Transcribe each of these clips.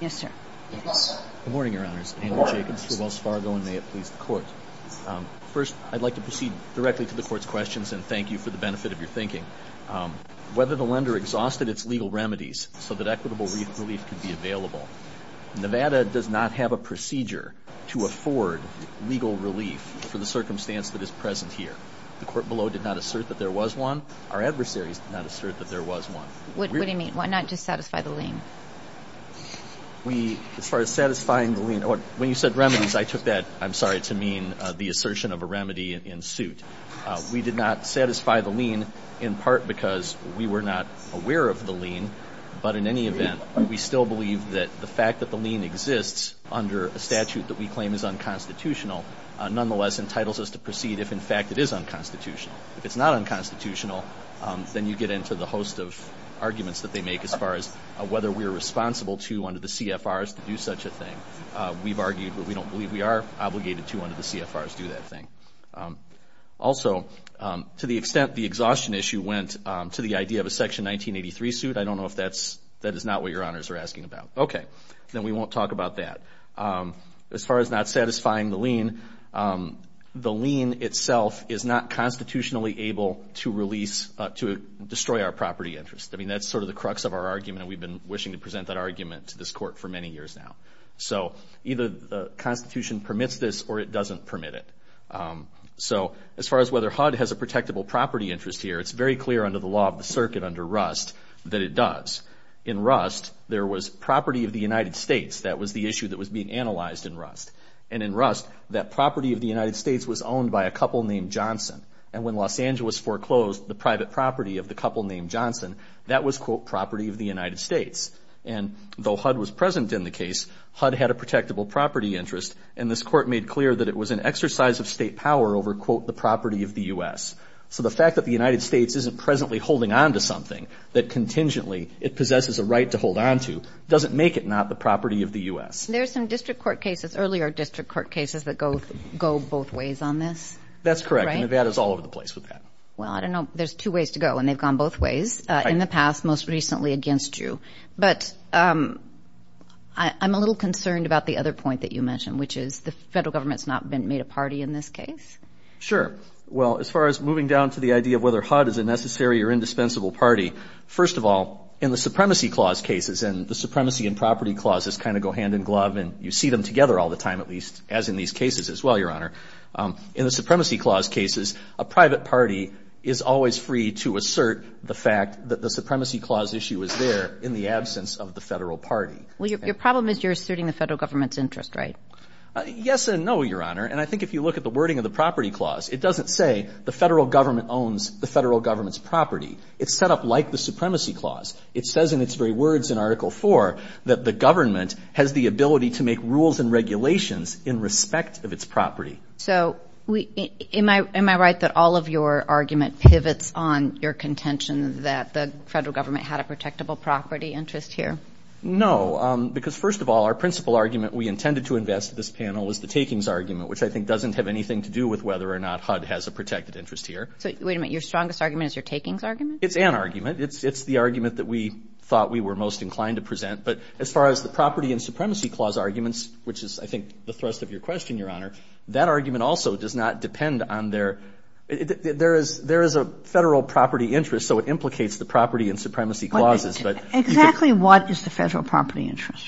Good morning, Your Honors. Andrew Jacobs for Wells Fargo, and may it please the Court. First, I'd like to proceed directly to the Court's questions, and thank you for the benefit of your thinking. Whether the lender exhausted its legal remedies so that equitable relief could be available, Nevada does not have a procedure to afford legal relief for the circumstance that is present here. The Court below did not assert that there was one. Our adversaries did not assert that there was one. What do you mean? Why not just satisfy the lien? As far as satisfying the lien, when you said remedies, I took that, I'm sorry, to mean the assertion of a remedy in suit. We did not satisfy the lien in part because we were not aware of the lien, but in any event, we still believe that the fact that the lien exists under a statute that we claim is unconstitutional nonetheless entitles us to proceed if, in fact, it is unconstitutional. If it's not unconstitutional, then you get into the host of arguments that they make as far as whether we are responsible to, under the CFRs, to do such a thing. We've argued that we don't believe we are obligated to, under the CFRs, do that thing. Also, to the extent the exhaustion issue went to the idea of a Section 1983 suit, I don't know if that is not what Your Honors are asking about. Okay, then we won't talk about that. As far as not satisfying the lien, the lien itself is not constitutionally able to release, to destroy our property interest. I mean, that's sort of the crux of our argument, and we've been wishing to present that argument to this Court for many years now. So either the Constitution permits this or it doesn't permit it. So as far as whether HUD has a protectable property interest here, it's very clear under the law of the circuit under Rust that it does. In Rust, there was property of the United States. That was the issue that was being analyzed in Rust. And in Rust, that property of the United States was owned by a couple named Johnson. And when Los Angeles foreclosed the private property of the couple named Johnson, that was, quote, property of the United States. And though HUD was present in the case, HUD had a protectable property interest, and this Court made clear that it was an exercise of state power over, quote, the property of the U.S. So the fact that the United States isn't presently holding on to something, that contingently it possesses a right to hold on to, doesn't make it not the property of the U.S. There's some district court cases, earlier district court cases, that go both ways on this. That's correct, and Nevada's all over the place with that. Well, I don't know. There's two ways to go, and they've gone both ways in the past, most recently against you. But I'm a little concerned about the other point that you mentioned, which is the federal government's not made a party in this case. Sure. Well, as far as moving down to the idea of whether HUD is a necessary or indispensable party, first of all, in the supremacy clause cases, and the supremacy and property clauses kind of go hand in glove, and you see them together all the time, at least, as in these cases as well, Your Honor. In the supremacy clause cases, a private party is always free to assert the fact that the supremacy clause issue is there, in the absence of the federal party. Well, your problem is you're asserting the federal government's interest, right? Yes and no, Your Honor. And I think if you look at the wording of the property clause, it doesn't say the federal government owns the federal government's property. It's set up like the supremacy clause. It says in its very words in Article IV that the government has the ability to make rules and regulations in respect of its property. So am I right that all of your argument pivots on your contention that the federal government had a protectable property interest here? No, because, first of all, our principal argument we intended to invest in this panel was the takings argument, which I think doesn't have anything to do with whether or not HUD has a protected interest here. Wait a minute. Your strongest argument is your takings argument? It's an argument. It's the argument that we thought we were most inclined to present. But as far as the property and supremacy clause arguments, which is I think the thrust of your question, Your Honor, that argument also does not depend on their ‑‑ there is a federal property interest, so it implicates the property and supremacy clauses. Exactly what is the federal property interest?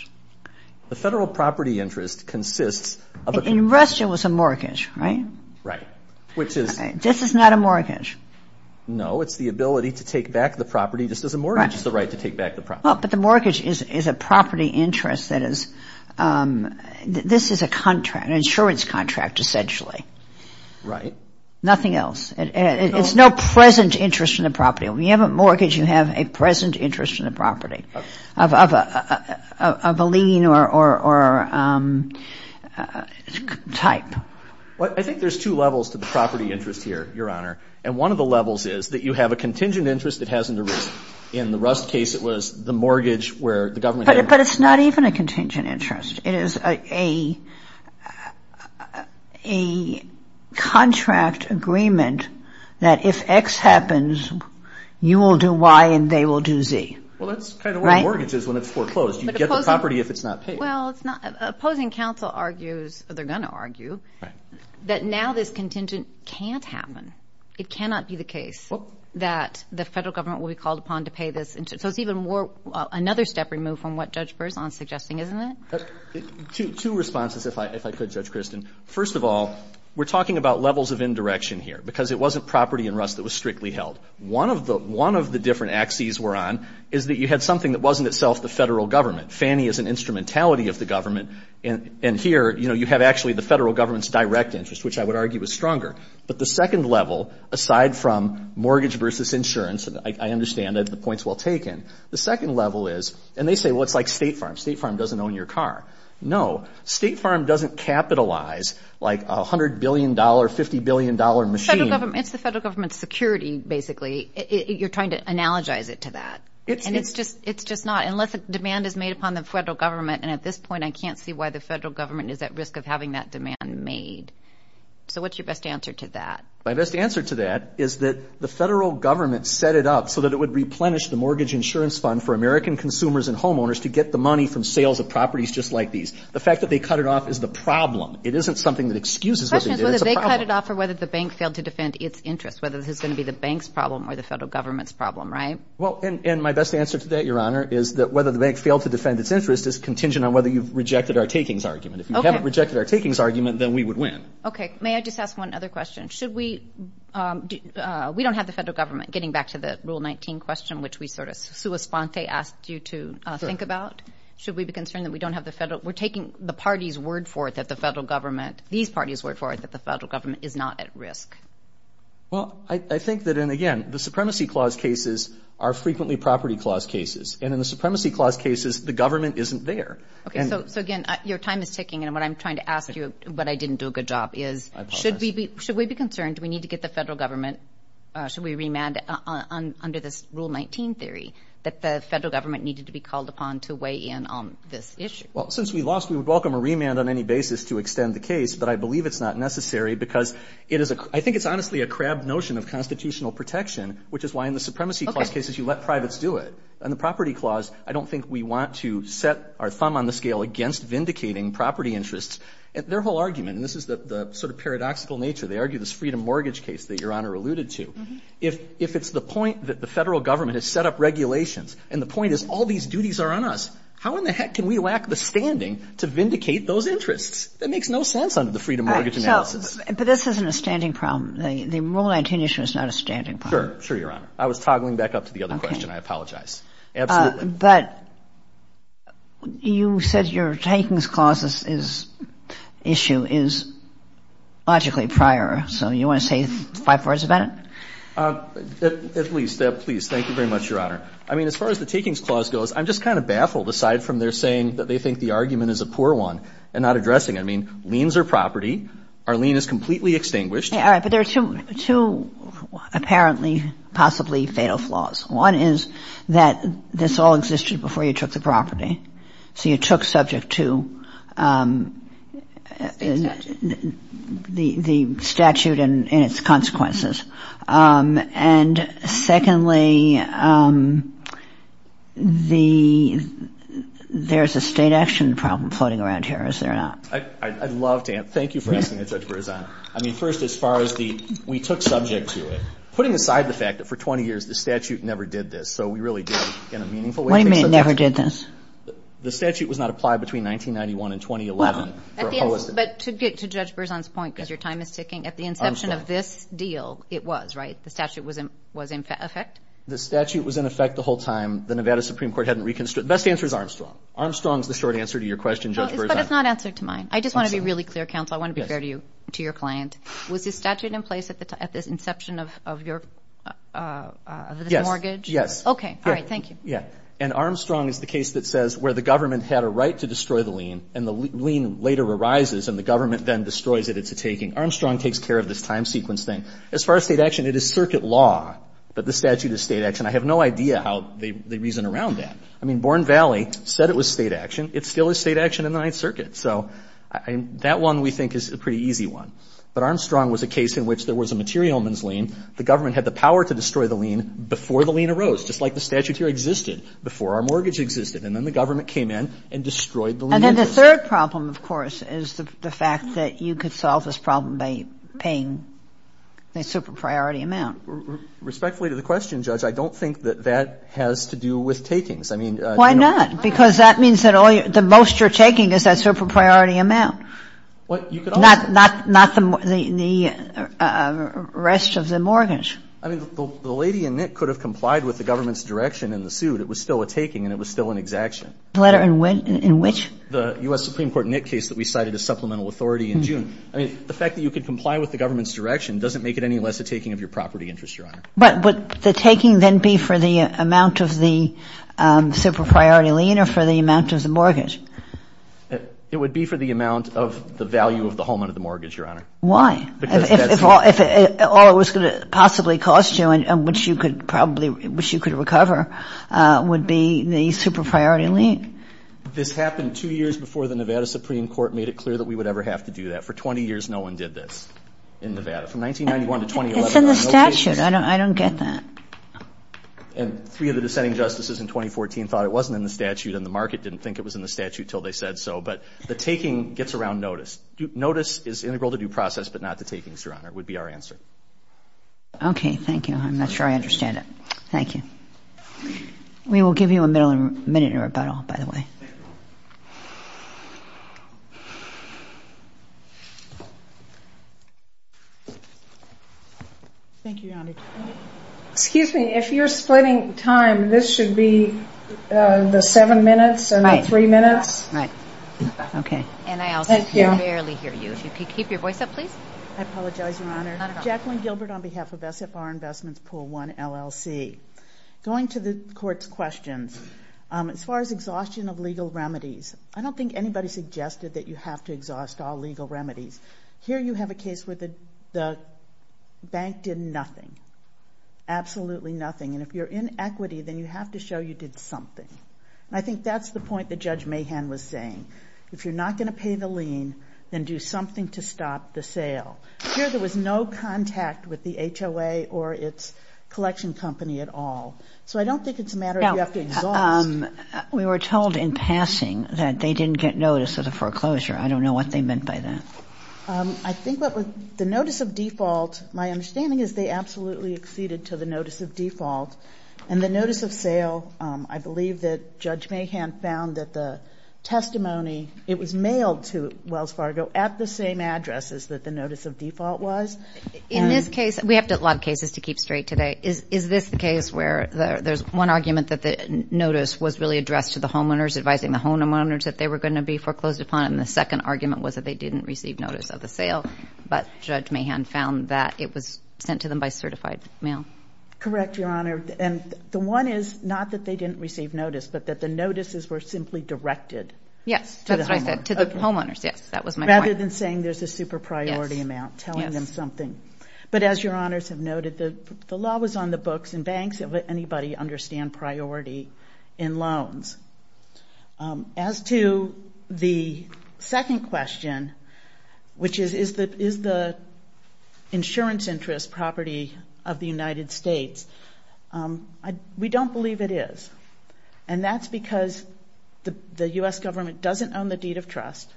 The federal property interest consists of a ‑‑ Invested was a mortgage, right? Right. Which is ‑‑ This is not a mortgage. No, it's the ability to take back the property just as a mortgage is the right to take back the property. But the mortgage is a property interest that is ‑‑ this is a contract, an insurance contract essentially. Right. Nothing else. It's no present interest in the property. When you have a mortgage, you have a present interest in the property of a lien or type. Well, I think there's two levels to the property interest here, Your Honor. And one of the levels is that you have a contingent interest that has no risk. In the Rust case, it was the mortgage where the government had ‑‑ But it's not even a contingent interest. It is a contract agreement that if X happens, you will do Y and they will do Z. Well, that's kind of what a mortgage is when it's foreclosed. You get the property if it's not paid. Well, opposing counsel argues, or they're going to argue, that now this contingent can't happen. It cannot be the case that the federal government will be called upon to pay this. So it's even more ‑‑ another step removed from what Judge Berzon is suggesting, isn't it? Two responses, if I could, Judge Kristen. First of all, we're talking about levels of indirection here because it wasn't property in Rust that was strictly held. One of the different axes we're on is that you had something that wasn't itself the federal government. Fannie is an instrumentality of the government. And here, you know, you have actually the federal government's direct interest, which I would argue is stronger. But the second level, aside from mortgage versus insurance, and I understand that the point's well taken, the second level is, and they say, well, it's like State Farm. State Farm doesn't own your car. No, State Farm doesn't capitalize like a $100 billion, $50 billion machine. It's the federal government's security, basically. You're trying to analogize it to that. And it's just not. Unless a demand is made upon the federal government, and at this point I can't see why the federal government is at risk of having that demand made. So what's your best answer to that? My best answer to that is that the federal government set it up so that it would replenish the mortgage insurance fund for American consumers and homeowners to get the money from sales of properties just like these. The fact that they cut it off is the problem. It isn't something that excuses what they did. The question is whether they cut it off or whether the bank failed to defend its interest, whether this is going to be the bank's problem or the federal government's problem, right? Well, and my best answer to that, Your Honor, is that whether the bank failed to defend its interest is contingent on whether you've rejected our takings argument. If you haven't rejected our takings argument, then we would win. Okay. May I just ask one other question? Should we – we don't have the federal government, getting back to the Rule 19 question, which we sort of sua sponte asked you to think about. Should we be concerned that we don't have the federal – we're taking the party's word for it that the federal government – these parties' word for it that the federal government is not at risk? Well, I think that, and again, the Supremacy Clause cases are frequently property clause cases, and in the Supremacy Clause cases, the government isn't there. Okay. So, again, your time is ticking, and what I'm trying to ask you, but I didn't do a good job, is should we be – if we're concerned, do we need to get the federal government – should we remand under this Rule 19 theory that the federal government needed to be called upon to weigh in on this issue? Well, since we lost, we would welcome a remand on any basis to extend the case, but I believe it's not necessary because it is a – I think it's honestly a crab notion of constitutional protection, which is why in the Supremacy Clause cases you let privates do it. Okay. In the Property Clause, I don't think we want to set our thumb on the scale against vindicating property interests. Their whole argument, and this is the sort of paradoxical nature, they argue this Freedom Mortgage case that Your Honor alluded to, if it's the point that the federal government has set up regulations and the point is all these duties are on us, how in the heck can we lack the standing to vindicate those interests? That makes no sense under the Freedom Mortgage analysis. But this isn't a standing problem. The Rule 19 issue is not a standing problem. Sure. Sure, Your Honor. I was toggling back up to the other question. I apologize. Absolutely. But you said your Takings Clause issue is logically prior. So you want to say five words about it? At least. Please. Thank you very much, Your Honor. I mean, as far as the Takings Clause goes, I'm just kind of baffled aside from their saying that they think the argument is a poor one and not addressing it. I mean, liens are property. Our lien is completely extinguished. All right. But there are two apparently possibly fatal flaws. One is that this all existed before you took the property. So you took subject to the statute and its consequences. And secondly, there's a state action problem floating around here, is there not? I'd love to. Thank you for asking the judge for his honor. I mean, first, as far as the we took subject to it, putting aside the fact that for 20 years the statute never did this. So we really did, in a meaningful way, take subject to it. What do you mean it never did this? The statute was not applied between 1991 and 2011. But to get to Judge Berzon's point, because your time is ticking, at the inception of this deal, it was, right? The statute was in effect? The statute was in effect the whole time. The Nevada Supreme Court hadn't reconstructed it. The best answer is Armstrong. Armstrong is the short answer to your question, Judge Berzon. But it's not an answer to mine. I just want to be really clear, counsel. I want to be fair to you, to your client. Was the statute in place at the inception of your mortgage? Yes. Okay. All right. Thank you. Yeah. And Armstrong is the case that says where the government had a right to destroy the lien, and the lien later arises and the government then destroys it, it's a taking. Armstrong takes care of this time sequence thing. As far as state action, it is circuit law that the statute is state action. I have no idea how they reason around that. I mean, Born Valley said it was state action. It still is state action in the Ninth Circuit. So that one we think is a pretty easy one. But Armstrong was a case in which there was a materialman's lien. The government had the power to destroy the lien before the lien arose, just like the statute here existed before our mortgage existed. And then the government came in and destroyed the lien. And then the third problem, of course, is the fact that you could solve this problem by paying a super priority amount. Respectfully to the question, Judge, I don't think that that has to do with takings. I mean, you know. Why not? Because that means that the most you're taking is that super priority amount. Not the rest of the mortgage. I mean, the lady in Nick could have complied with the government's direction in the suit. It was still a taking and it was still an exaction. The letter in which? The U.S. Supreme Court Nick case that we cited as supplemental authority in June. I mean, the fact that you could comply with the government's direction doesn't make it any less a taking of your property interest, Your Honor. But would the taking then be for the amount of the super priority lien or for the amount of the mortgage? It would be for the amount of the value of the home under the mortgage, Your Honor. Why? Because that's... If all it was going to possibly cost you and which you could probably, which you could recover, would be the super priority lien. This happened two years before the Nevada Supreme Court made it clear that we would ever have to do that. For 20 years, no one did this in Nevada. From 1991 to 2011... It's in the statute. I don't get that. And three of the dissenting justices in 2014 thought it wasn't in the statute and the market didn't think it was in the statute until they said so. But the taking gets around notice. Notice is integral to due process but not to takings, Your Honor, would be our answer. Okay. Thank you. I'm not sure I understand it. Thank you. We will give you a minute in rebuttal, by the way. Thank you, Your Honor. Excuse me, if you're splitting time, this should be the seven minutes and the three minutes? Right. Okay. And I also can barely hear you. If you could keep your voice up, please. I apologize, Your Honor. Not at all. Jacqueline Gilbert on behalf of SFR Investments, Pool 1, LLC. Going to the court's questions, as far as exhaustion of legal remedies, I don't think anybody suggested that you have to exhaust all legal remedies. Here you have a case where the bank did nothing, absolutely nothing. And if you're in equity, then you have to show you did something. And I think that's the point that Judge Mahan was saying. If you're not going to pay the lien, then do something to stop the sale. Here there was no contact with the HOA or its collection company at all. So I don't think it's a matter of you have to exhaust. We were told in passing that they didn't get notice of the foreclosure. I don't know what they meant by that. I think what the notice of default, my understanding is they absolutely acceded to the notice of default. And the notice of sale, I believe that Judge Mahan found that the testimony, it was mailed to Wells Fargo at the same addresses that the notice of default was. In this case, we have a lot of cases to keep straight today. Is this the case where there's one argument that the notice was really addressed to the homeowners, advising the homeowners that they were going to be foreclosed upon, and the second argument was that they didn't receive notice of the sale, but Judge Mahan found that it was sent to them by certified mail? Correct, Your Honor. And the one is not that they didn't receive notice, but that the notices were simply directed. Yes. To the homeowners. To the homeowners, yes. That was my point. Rather than saying there's a super priority amount telling them something. Yes. But as Your Honors have noted, the law was on the books and banks. It wouldn't let anybody understand priority in loans. As to the second question, which is, is the insurance interest property of the United States? We don't believe it is. And that's because the U.S. government doesn't own the deed of trust,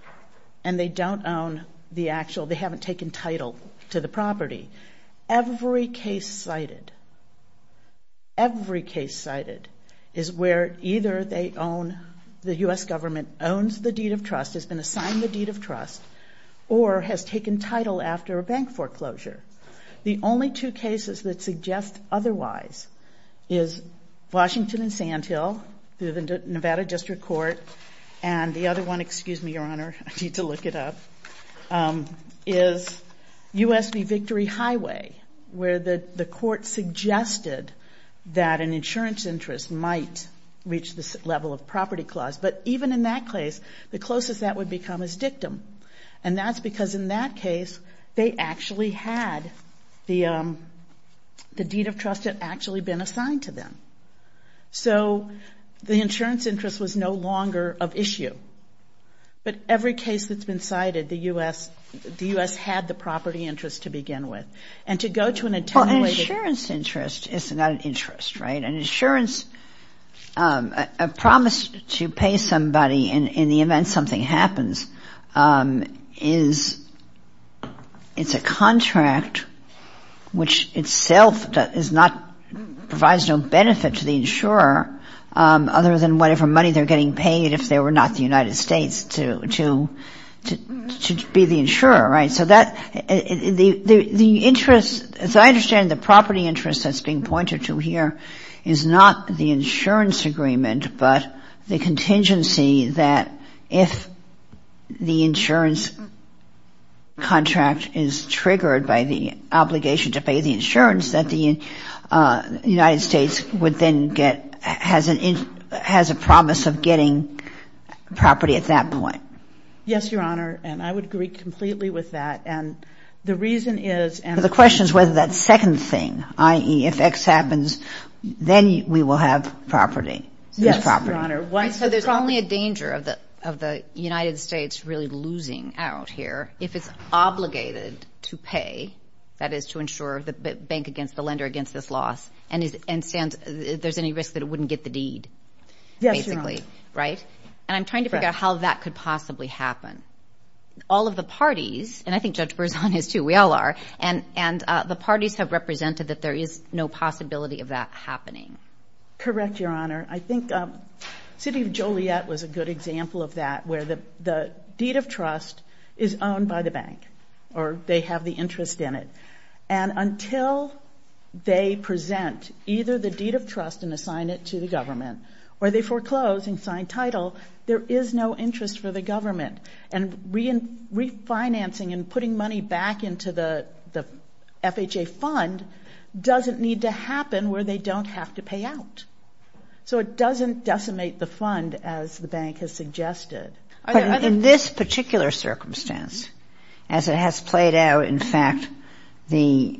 and they don't own the actual, they haven't taken title to the property. Every case cited, every case cited is where either they own, the U.S. government owns the deed of trust, has been assigned the deed of trust, or has taken title after a bank foreclosure. The only two cases that suggest otherwise is Washington and Sand Hill, the Nevada District Court, and the other one, excuse me, Your Honor, I need to look it up, is U.S. v. Victory Highway, where the court suggested that an insurance interest might reach this level of property clause. But even in that case, the closest that would become is dictum. And that's because in that case, they actually had the deed of trust had actually been assigned to them. But every case that's been cited, the U.S. had the property interest to begin with. And to go to an intended way to... Well, an insurance interest is not an interest, right? An insurance, a promise to pay somebody in the event something happens is, it's a contract which itself is not, provides no benefit to the insurer, other than whatever money they're getting paid if they were not the United States to be the insurer, right? So that, the interest, as I understand it, the property interest that's being pointed to here, is not the insurance agreement, but the contingency that if the insurance contract is triggered by the obligation to pay the insurance that the United States would then get, has a promise of getting property at that point. Yes, Your Honor. And I would agree completely with that. And the reason is... But the question is whether that second thing, i.e., if X happens, then we will have property. Yes, Your Honor. So there's only a danger of the United States really losing out here if it's obligated to pay, that is, to insure the bank against the lender against this loss, and there's any risk that it wouldn't get the deed, basically. Yes, Your Honor. Right? And I'm trying to figure out how that could possibly happen. All of the parties, and I think Judge Berzon is too, we all are, and the parties have represented that there is no possibility of that happening. Correct, Your Honor. I think City of Joliet was a good example of that, where the deed of trust is owned by the bank or they have the interest in it. And until they present either the deed of trust and assign it to the government or they foreclose and sign title, there is no interest for the government. And refinancing and putting money back into the FHA fund doesn't need to happen where they don't have to pay out. So it doesn't decimate the fund as the bank has suggested. But in this particular circumstance, as it has played out, in fact the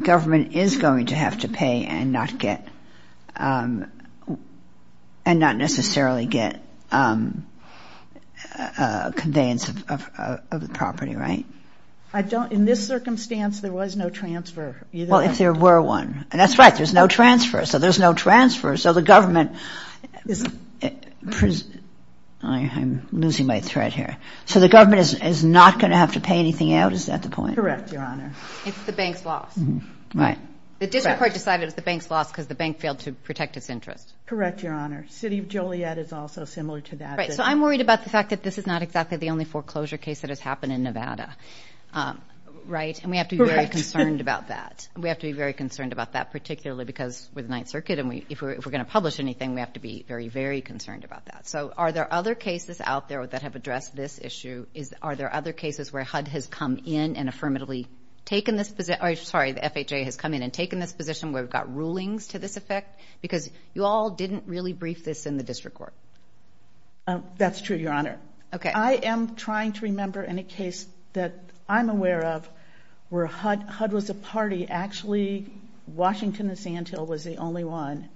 government is going to have to pay and not necessarily get conveyance of the property, right? In this circumstance there was no transfer. Well, if there were one. And that's right, there's no transfer. So there's no transfer. So the government is not going to have to pay anything out. Is that the point? Correct, Your Honor. It's the bank's loss. Right. The district court decided it was the bank's loss because the bank failed to protect its interest. Correct, Your Honor. City of Joliet is also similar to that. Right. So I'm worried about the fact that this is not exactly the only foreclosure case that has happened in Nevada, right? Correct. And we have to be very concerned about that. Particularly because we're the Ninth Circuit and if we're going to publish anything, we have to be very, very concerned about that. So are there other cases out there that have addressed this issue? Are there other cases where HUD has come in and affirmatively taken this position? I'm sorry, the FHA has come in and taken this position where we've got rulings to this effect? Because you all didn't really brief this in the district court. That's true, Your Honor. Okay. I am trying to remember any case that I'm aware of where HUD was a party. Actually, Washington and Sand Hill was the only one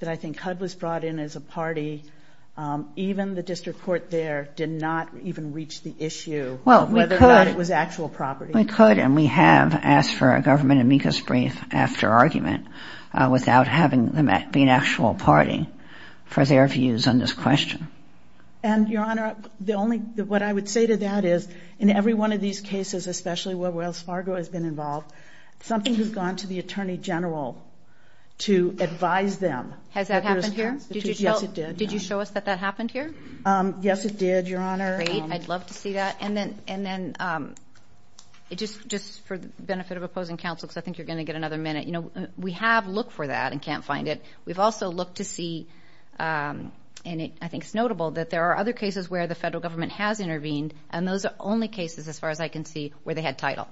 that I think HUD was brought in as a party. Even the district court there did not even reach the issue of whether or not it was actual property. Well, we could and we have asked for a government amicus brief after argument without having them be an actual party for their views on this question. And, Your Honor, what I would say to that is in every one of these cases, especially where Wells Fargo has been involved, something has gone to the Attorney General to advise them. Has that happened here? Yes, it did. Did you show us that that happened here? Yes, it did, Your Honor. Great. I'd love to see that. And then just for the benefit of opposing counsel, because I think you're going to get another minute, we have looked for that and can't find it. We've also looked to see, and I think it's notable, that there are other cases where the federal government has intervened and those are the only cases, as far as I can see, where they had title.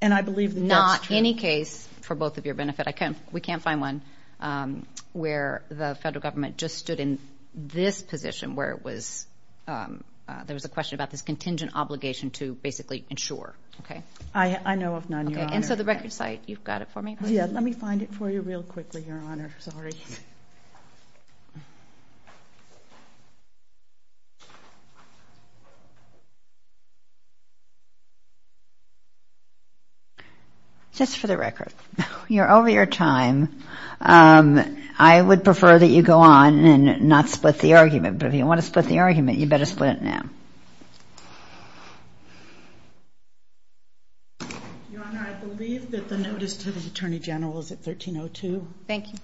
And I believe that that's true. Not any case, for both of your benefit. We can't find one where the federal government just stood in this position where there was a question about this contingent obligation to basically insure. I know of none, Your Honor. And so the record site, you've got it for me? Yeah, let me find it for you real quickly, Your Honor. Sorry. Just for the record, you're over your time. I would prefer that you go on and not split the argument. But if you want to split the argument, you better split it now. Your Honor, I believe that the notice to the Attorney General is at 13.02. Thank you.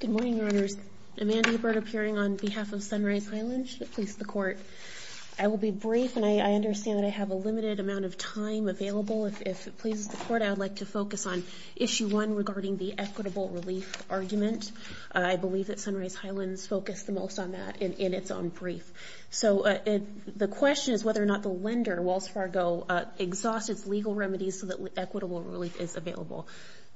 Good morning, Your Honors. Amanda Hebert, appearing on behalf of Sunrise Highland, should it please the Court. I will be brief, and I understand that I have a limited amount of time available. If it pleases the Court, I would like to focus on Issue 1 regarding the equitable relief argument. I believe that Sunrise Highland has focused the most on that in its own brief. So the question is whether or not the lender, Wells Fargo, exhausted its legal remedies so that equitable relief is available.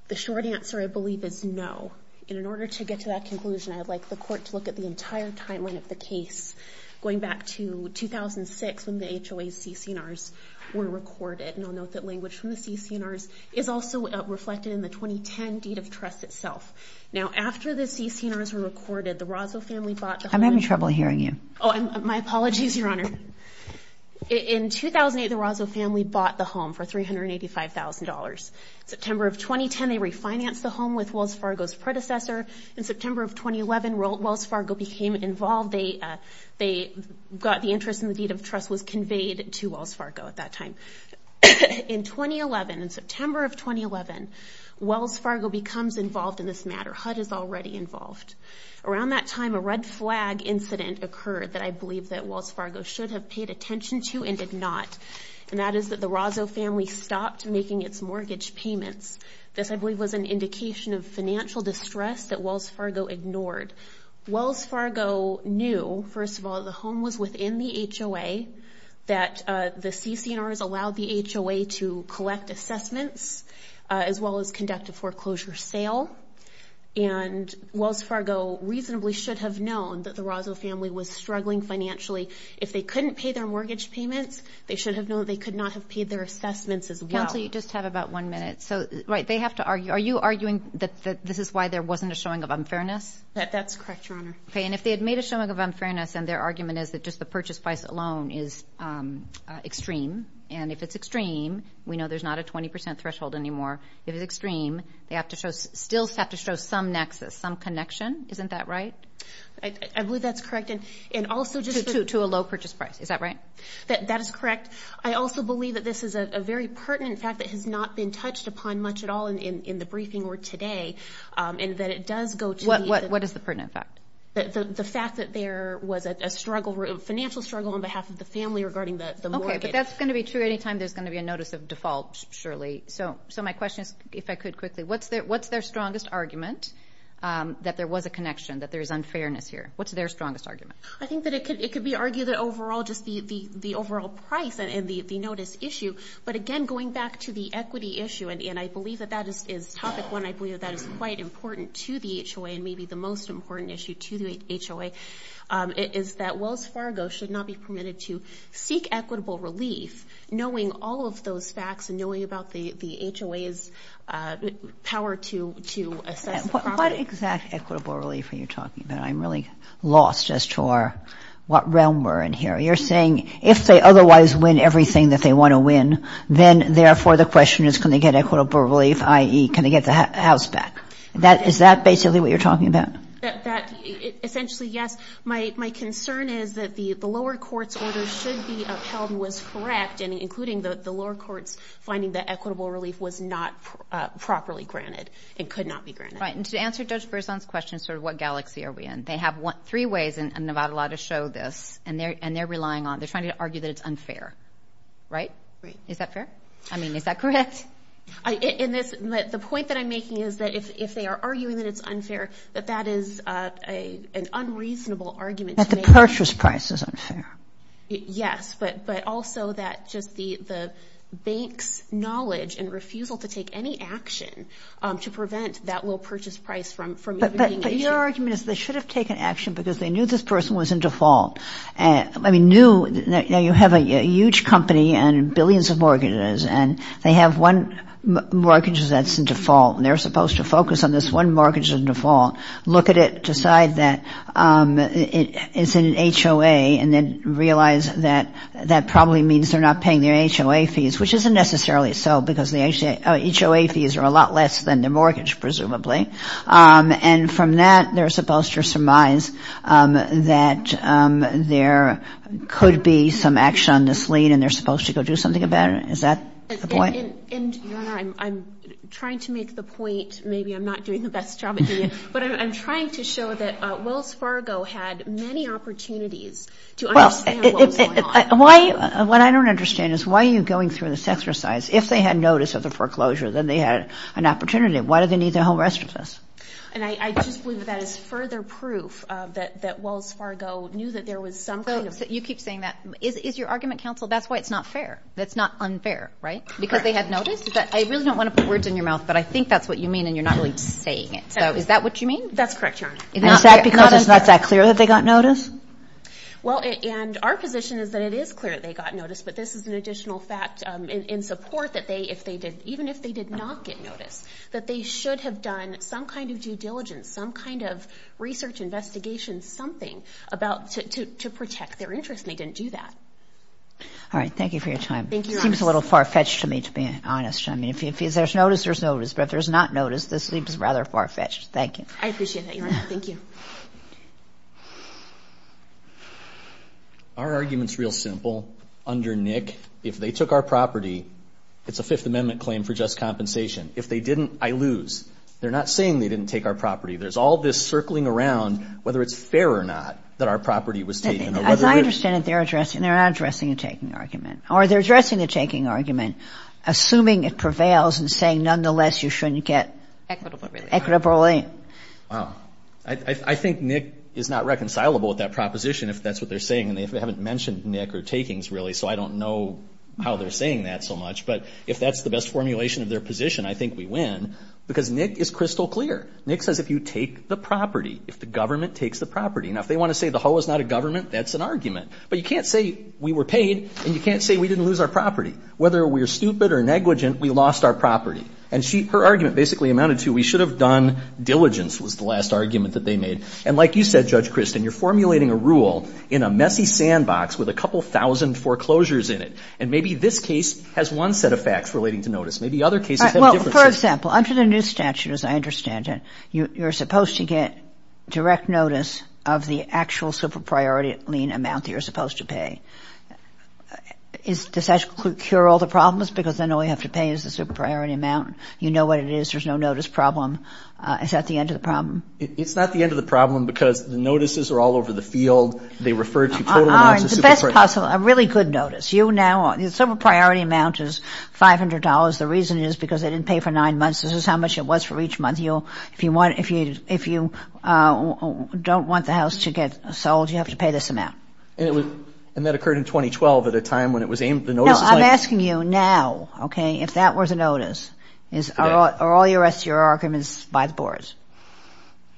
The short answer, I believe, is no. And in order to get to that conclusion, I would like the Court to look at the entire timeline of the case, going back to 2006 when the HOA CC&Rs were recorded. And I'll note that language from the CC&Rs is also reflected in the 2010 deed of trust itself. Now, after the CC&Rs were recorded, the Rosso family bought the home. I'm having trouble hearing you. Oh, my apologies, Your Honor. In 2008, the Rosso family bought the home for $385,000. September of 2010, they refinanced the home with Wells Fargo's predecessor. In September of 2011, Wells Fargo became involved. They got the interest, and the deed of trust was conveyed to Wells Fargo at that time. In 2011, in September of 2011, Wells Fargo becomes involved in this matter. HUD is already involved. Around that time, a red flag incident occurred that I believe that Wells Fargo should have paid attention to and did not, and that is that the Rosso family stopped making its mortgage payments. This, I believe, was an indication of financial distress that Wells Fargo ignored. Wells Fargo knew, first of all, the home was within the HOA, that the CC&Rs allowed the HOA to collect assessments as well as conduct a foreclosure sale, and Wells Fargo reasonably should have known that the Rosso family was struggling financially. If they couldn't pay their mortgage payments, they should have known they could not have paid their assessments as well. Counsel, you just have about one minute. So, right, they have to argue. Are you arguing that this is why there wasn't a showing of unfairness? That's correct, Your Honor. Okay, and if they had made a showing of unfairness and their argument is that just the purchase price alone is extreme, and if it's extreme, we know there's not a 20% threshold anymore. If it's extreme, they still have to show some nexus, some connection. Isn't that right? I believe that's correct. To a low purchase price. Is that right? That is correct. I also believe that this is a very pertinent fact that has not been touched upon much at all in the briefing or today, and that it does go to the... What is the pertinent fact? The fact that there was a financial struggle on behalf of the family regarding the mortgage. Okay, but that's going to be true any time there's going to be a notice of default, surely. So my question is, if I could quickly, what's their strongest argument that there was a connection, that there is unfairness here? What's their strongest argument? I think that it could be argued that overall just the overall price and the notice issue, but, again, going back to the equity issue, and I believe that that is topic one. I believe that that is quite important to the HOA, and maybe the most important issue to the HOA, is that Wells Fargo should not be permitted to seek equitable relief knowing all of those facts and knowing about the HOA's power to assess the property. What exact equitable relief are you talking about? I'm really lost as to what realm we're in here. You're saying if they otherwise win everything that they want to win, then, therefore, the question is can they get equitable relief, i.e., can they get the house back? Is that basically what you're talking about? Essentially, yes. My concern is that the lower court's order should be upheld was correct, including the lower court's finding that equitable relief was not properly granted. It could not be granted. Right, and to answer Judge Berzon's question sort of what galaxy are we in, they have three ways in Nevada law to show this, and they're relying on it. They're trying to argue that it's unfair, right? Is that fair? I mean, is that correct? The point that I'm making is that if they are arguing that it's unfair, that that is an unreasonable argument to make. That the purchase price is unfair. Yes, but also that just the bank's knowledge and refusal to take any action to prevent that little purchase price from being issued. But your argument is they should have taken action because they knew this person was in default, I mean knew that you have a huge company and billions of mortgages, and they have one mortgage that's in default, and they're supposed to focus on this one mortgage in default, look at it, decide that it's an HOA, and then realize that that probably means they're not paying their HOA fees, which isn't necessarily so because the HOA fees are a lot less than their mortgage, presumably. And from that, they're supposed to surmise that there could be some action on this lien, and they're supposed to go do something about it? Is that the point? And, Your Honor, I'm trying to make the point, maybe I'm not doing the best job at doing it, but I'm trying to show that Wells Fargo had many opportunities to understand what was going on. Well, what I don't understand is why are you going through this exercise? If they had notice of the foreclosure, then they had an opportunity. Why do they need their home rest with us? And I just believe that that is further proof that Wells Fargo knew that there was some kind of – So you keep saying that. Is your argument, counsel, that's why it's not fair? That's not unfair, right? Because they had notice? I really don't want to put words in your mouth, but I think that's what you mean, and you're not really saying it. So is that what you mean? That's correct, Your Honor. Is that because it's not that clear that they got notice? Well, and our position is that it is clear that they got notice, but this is an additional fact in support that they, if they did, even if they did not get notice, that they should have done some kind of due diligence, some kind of research investigation, something to protect their interest, and they didn't do that. All right. Thank you for your time. Thank you, Your Honor. It seems a little far-fetched to me, to be honest. I mean, if there's notice, there's notice, but if there's not notice, this seems rather far-fetched. Thank you. I appreciate that, Your Honor. Thank you. Our argument's real simple. Under NIC, if they took our property, it's a Fifth Amendment claim for just compensation. If they didn't, I lose. They're not saying they didn't take our property. There's all this circling around whether it's fair or not that our property was taken. As I understand it, they're not addressing a taking argument, or they're addressing a taking argument, assuming it prevails and saying, nonetheless, you shouldn't get equitably. Wow. I think NIC is not reconcilable with that proposition, if that's what they're saying, and they haven't mentioned NIC or takings, really, so I don't know how they're saying that so much. But if that's the best formulation of their position, I think we win, because NIC is crystal clear. NIC says if you take the property, if the government takes the property. Now, if they want to say the whole is not a government, that's an argument. But you can't say we were paid, and you can't say we didn't lose our property. Whether we're stupid or negligent, we lost our property. And her argument basically amounted to we should have done diligence was the last argument that they made. And like you said, Judge Kristen, you're formulating a rule in a messy sandbox with a couple thousand foreclosures in it. And maybe this case has one set of facts relating to notice. Maybe other cases have a different set. Well, for example, under the new statute, as I understand it, you're supposed to get direct notice of the actual super-priority lien amount that you're supposed to pay. Does that cure all the problems, because then all you have to pay is the super-priority amount? You know what it is. There's no notice problem. Is that the end of the problem? It's not the end of the problem because the notices are all over the field. They refer to total amounts of super-priority. All right. The best possible, a really good notice. You now, the super-priority amount is $500. The reason is because they didn't pay for nine months. This is how much it was for each month. If you don't want the house to get sold, you have to pay this amount. And that occurred in 2012 at a time when it was aimed at the notices. No, I'm asking you now, okay, if that was a notice. Are all the rest of your arguments by the boards?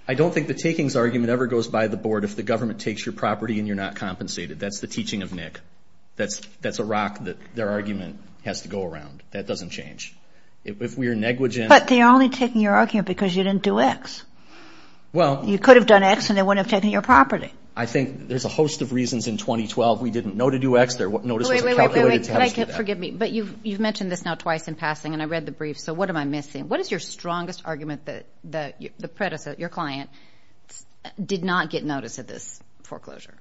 I don't think the takings argument ever goes by the board. If the government takes your property and you're not compensated, that's the teaching of Nick. That's a rock that their argument has to go around. That doesn't change. If we're negligent. But they're only taking your argument because you didn't do X. Well. You could have done X and they wouldn't have taken your property. I think there's a host of reasons in 2012 we didn't know to do X. There were notices calculated to have us do that. Wait, wait, wait. Forgive me, but you've mentioned this now twice in passing, and I read the brief, so what am I missing? What is your strongest argument that the predecessor, your client, did not get notice of this foreclosure?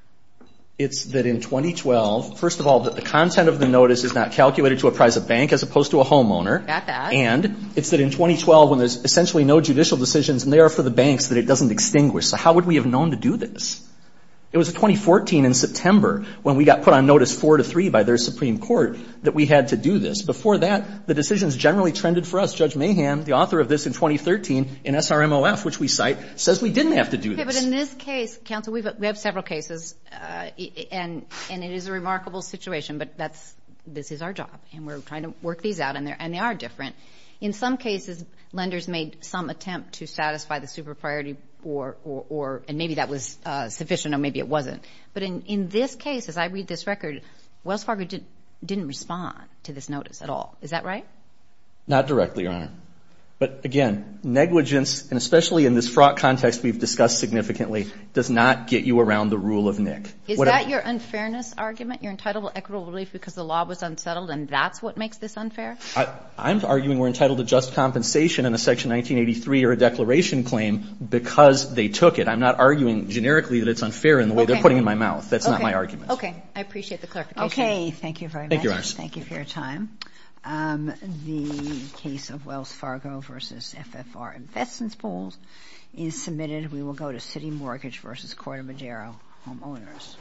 It's that in 2012, first of all, that the content of the notice is not calculated to apprise a bank as opposed to a homeowner. Got that. And it's that in 2012 when there's essentially no judicial decisions, and they are for the banks, that it doesn't extinguish. So how would we have known to do this? It was in 2014 in September when we got put on notice four to three by their Supreme Court that we had to do this. Before that, the decisions generally trended for us. Judge Mahan, the author of this in 2013 in SRMOF, which we cite, says we didn't have to do this. Okay. But in this case, counsel, we have several cases, and it is a remarkable situation. But this is our job, and we're trying to work these out, and they are different. In some cases, lenders made some attempt to satisfy the super priority, and maybe that was sufficient, or maybe it wasn't. But in this case, as I read this record, Wells Fargo didn't respond to this notice at all. Is that right? Not directly, Your Honor. But, again, negligence, and especially in this fraud context we've discussed significantly, does not get you around the rule of NIC. Is that your unfairness argument, your entitled equitable relief because the law was unsettled, and that's what makes this unfair? I'm arguing we're entitled to just compensation in a Section 1983 or a declaration claim because they took it. I'm not arguing generically that it's unfair in the way they're putting it in my mouth. Okay. That's not my argument. Okay. I appreciate the clarification. Okay. Thank you very much. Thank you, Your Honor. Thank you for your time. The case of Wells Fargo v. FFR Investments Bulls is submitted. We will go to City Mortgage v. Corte Madero, homeowners.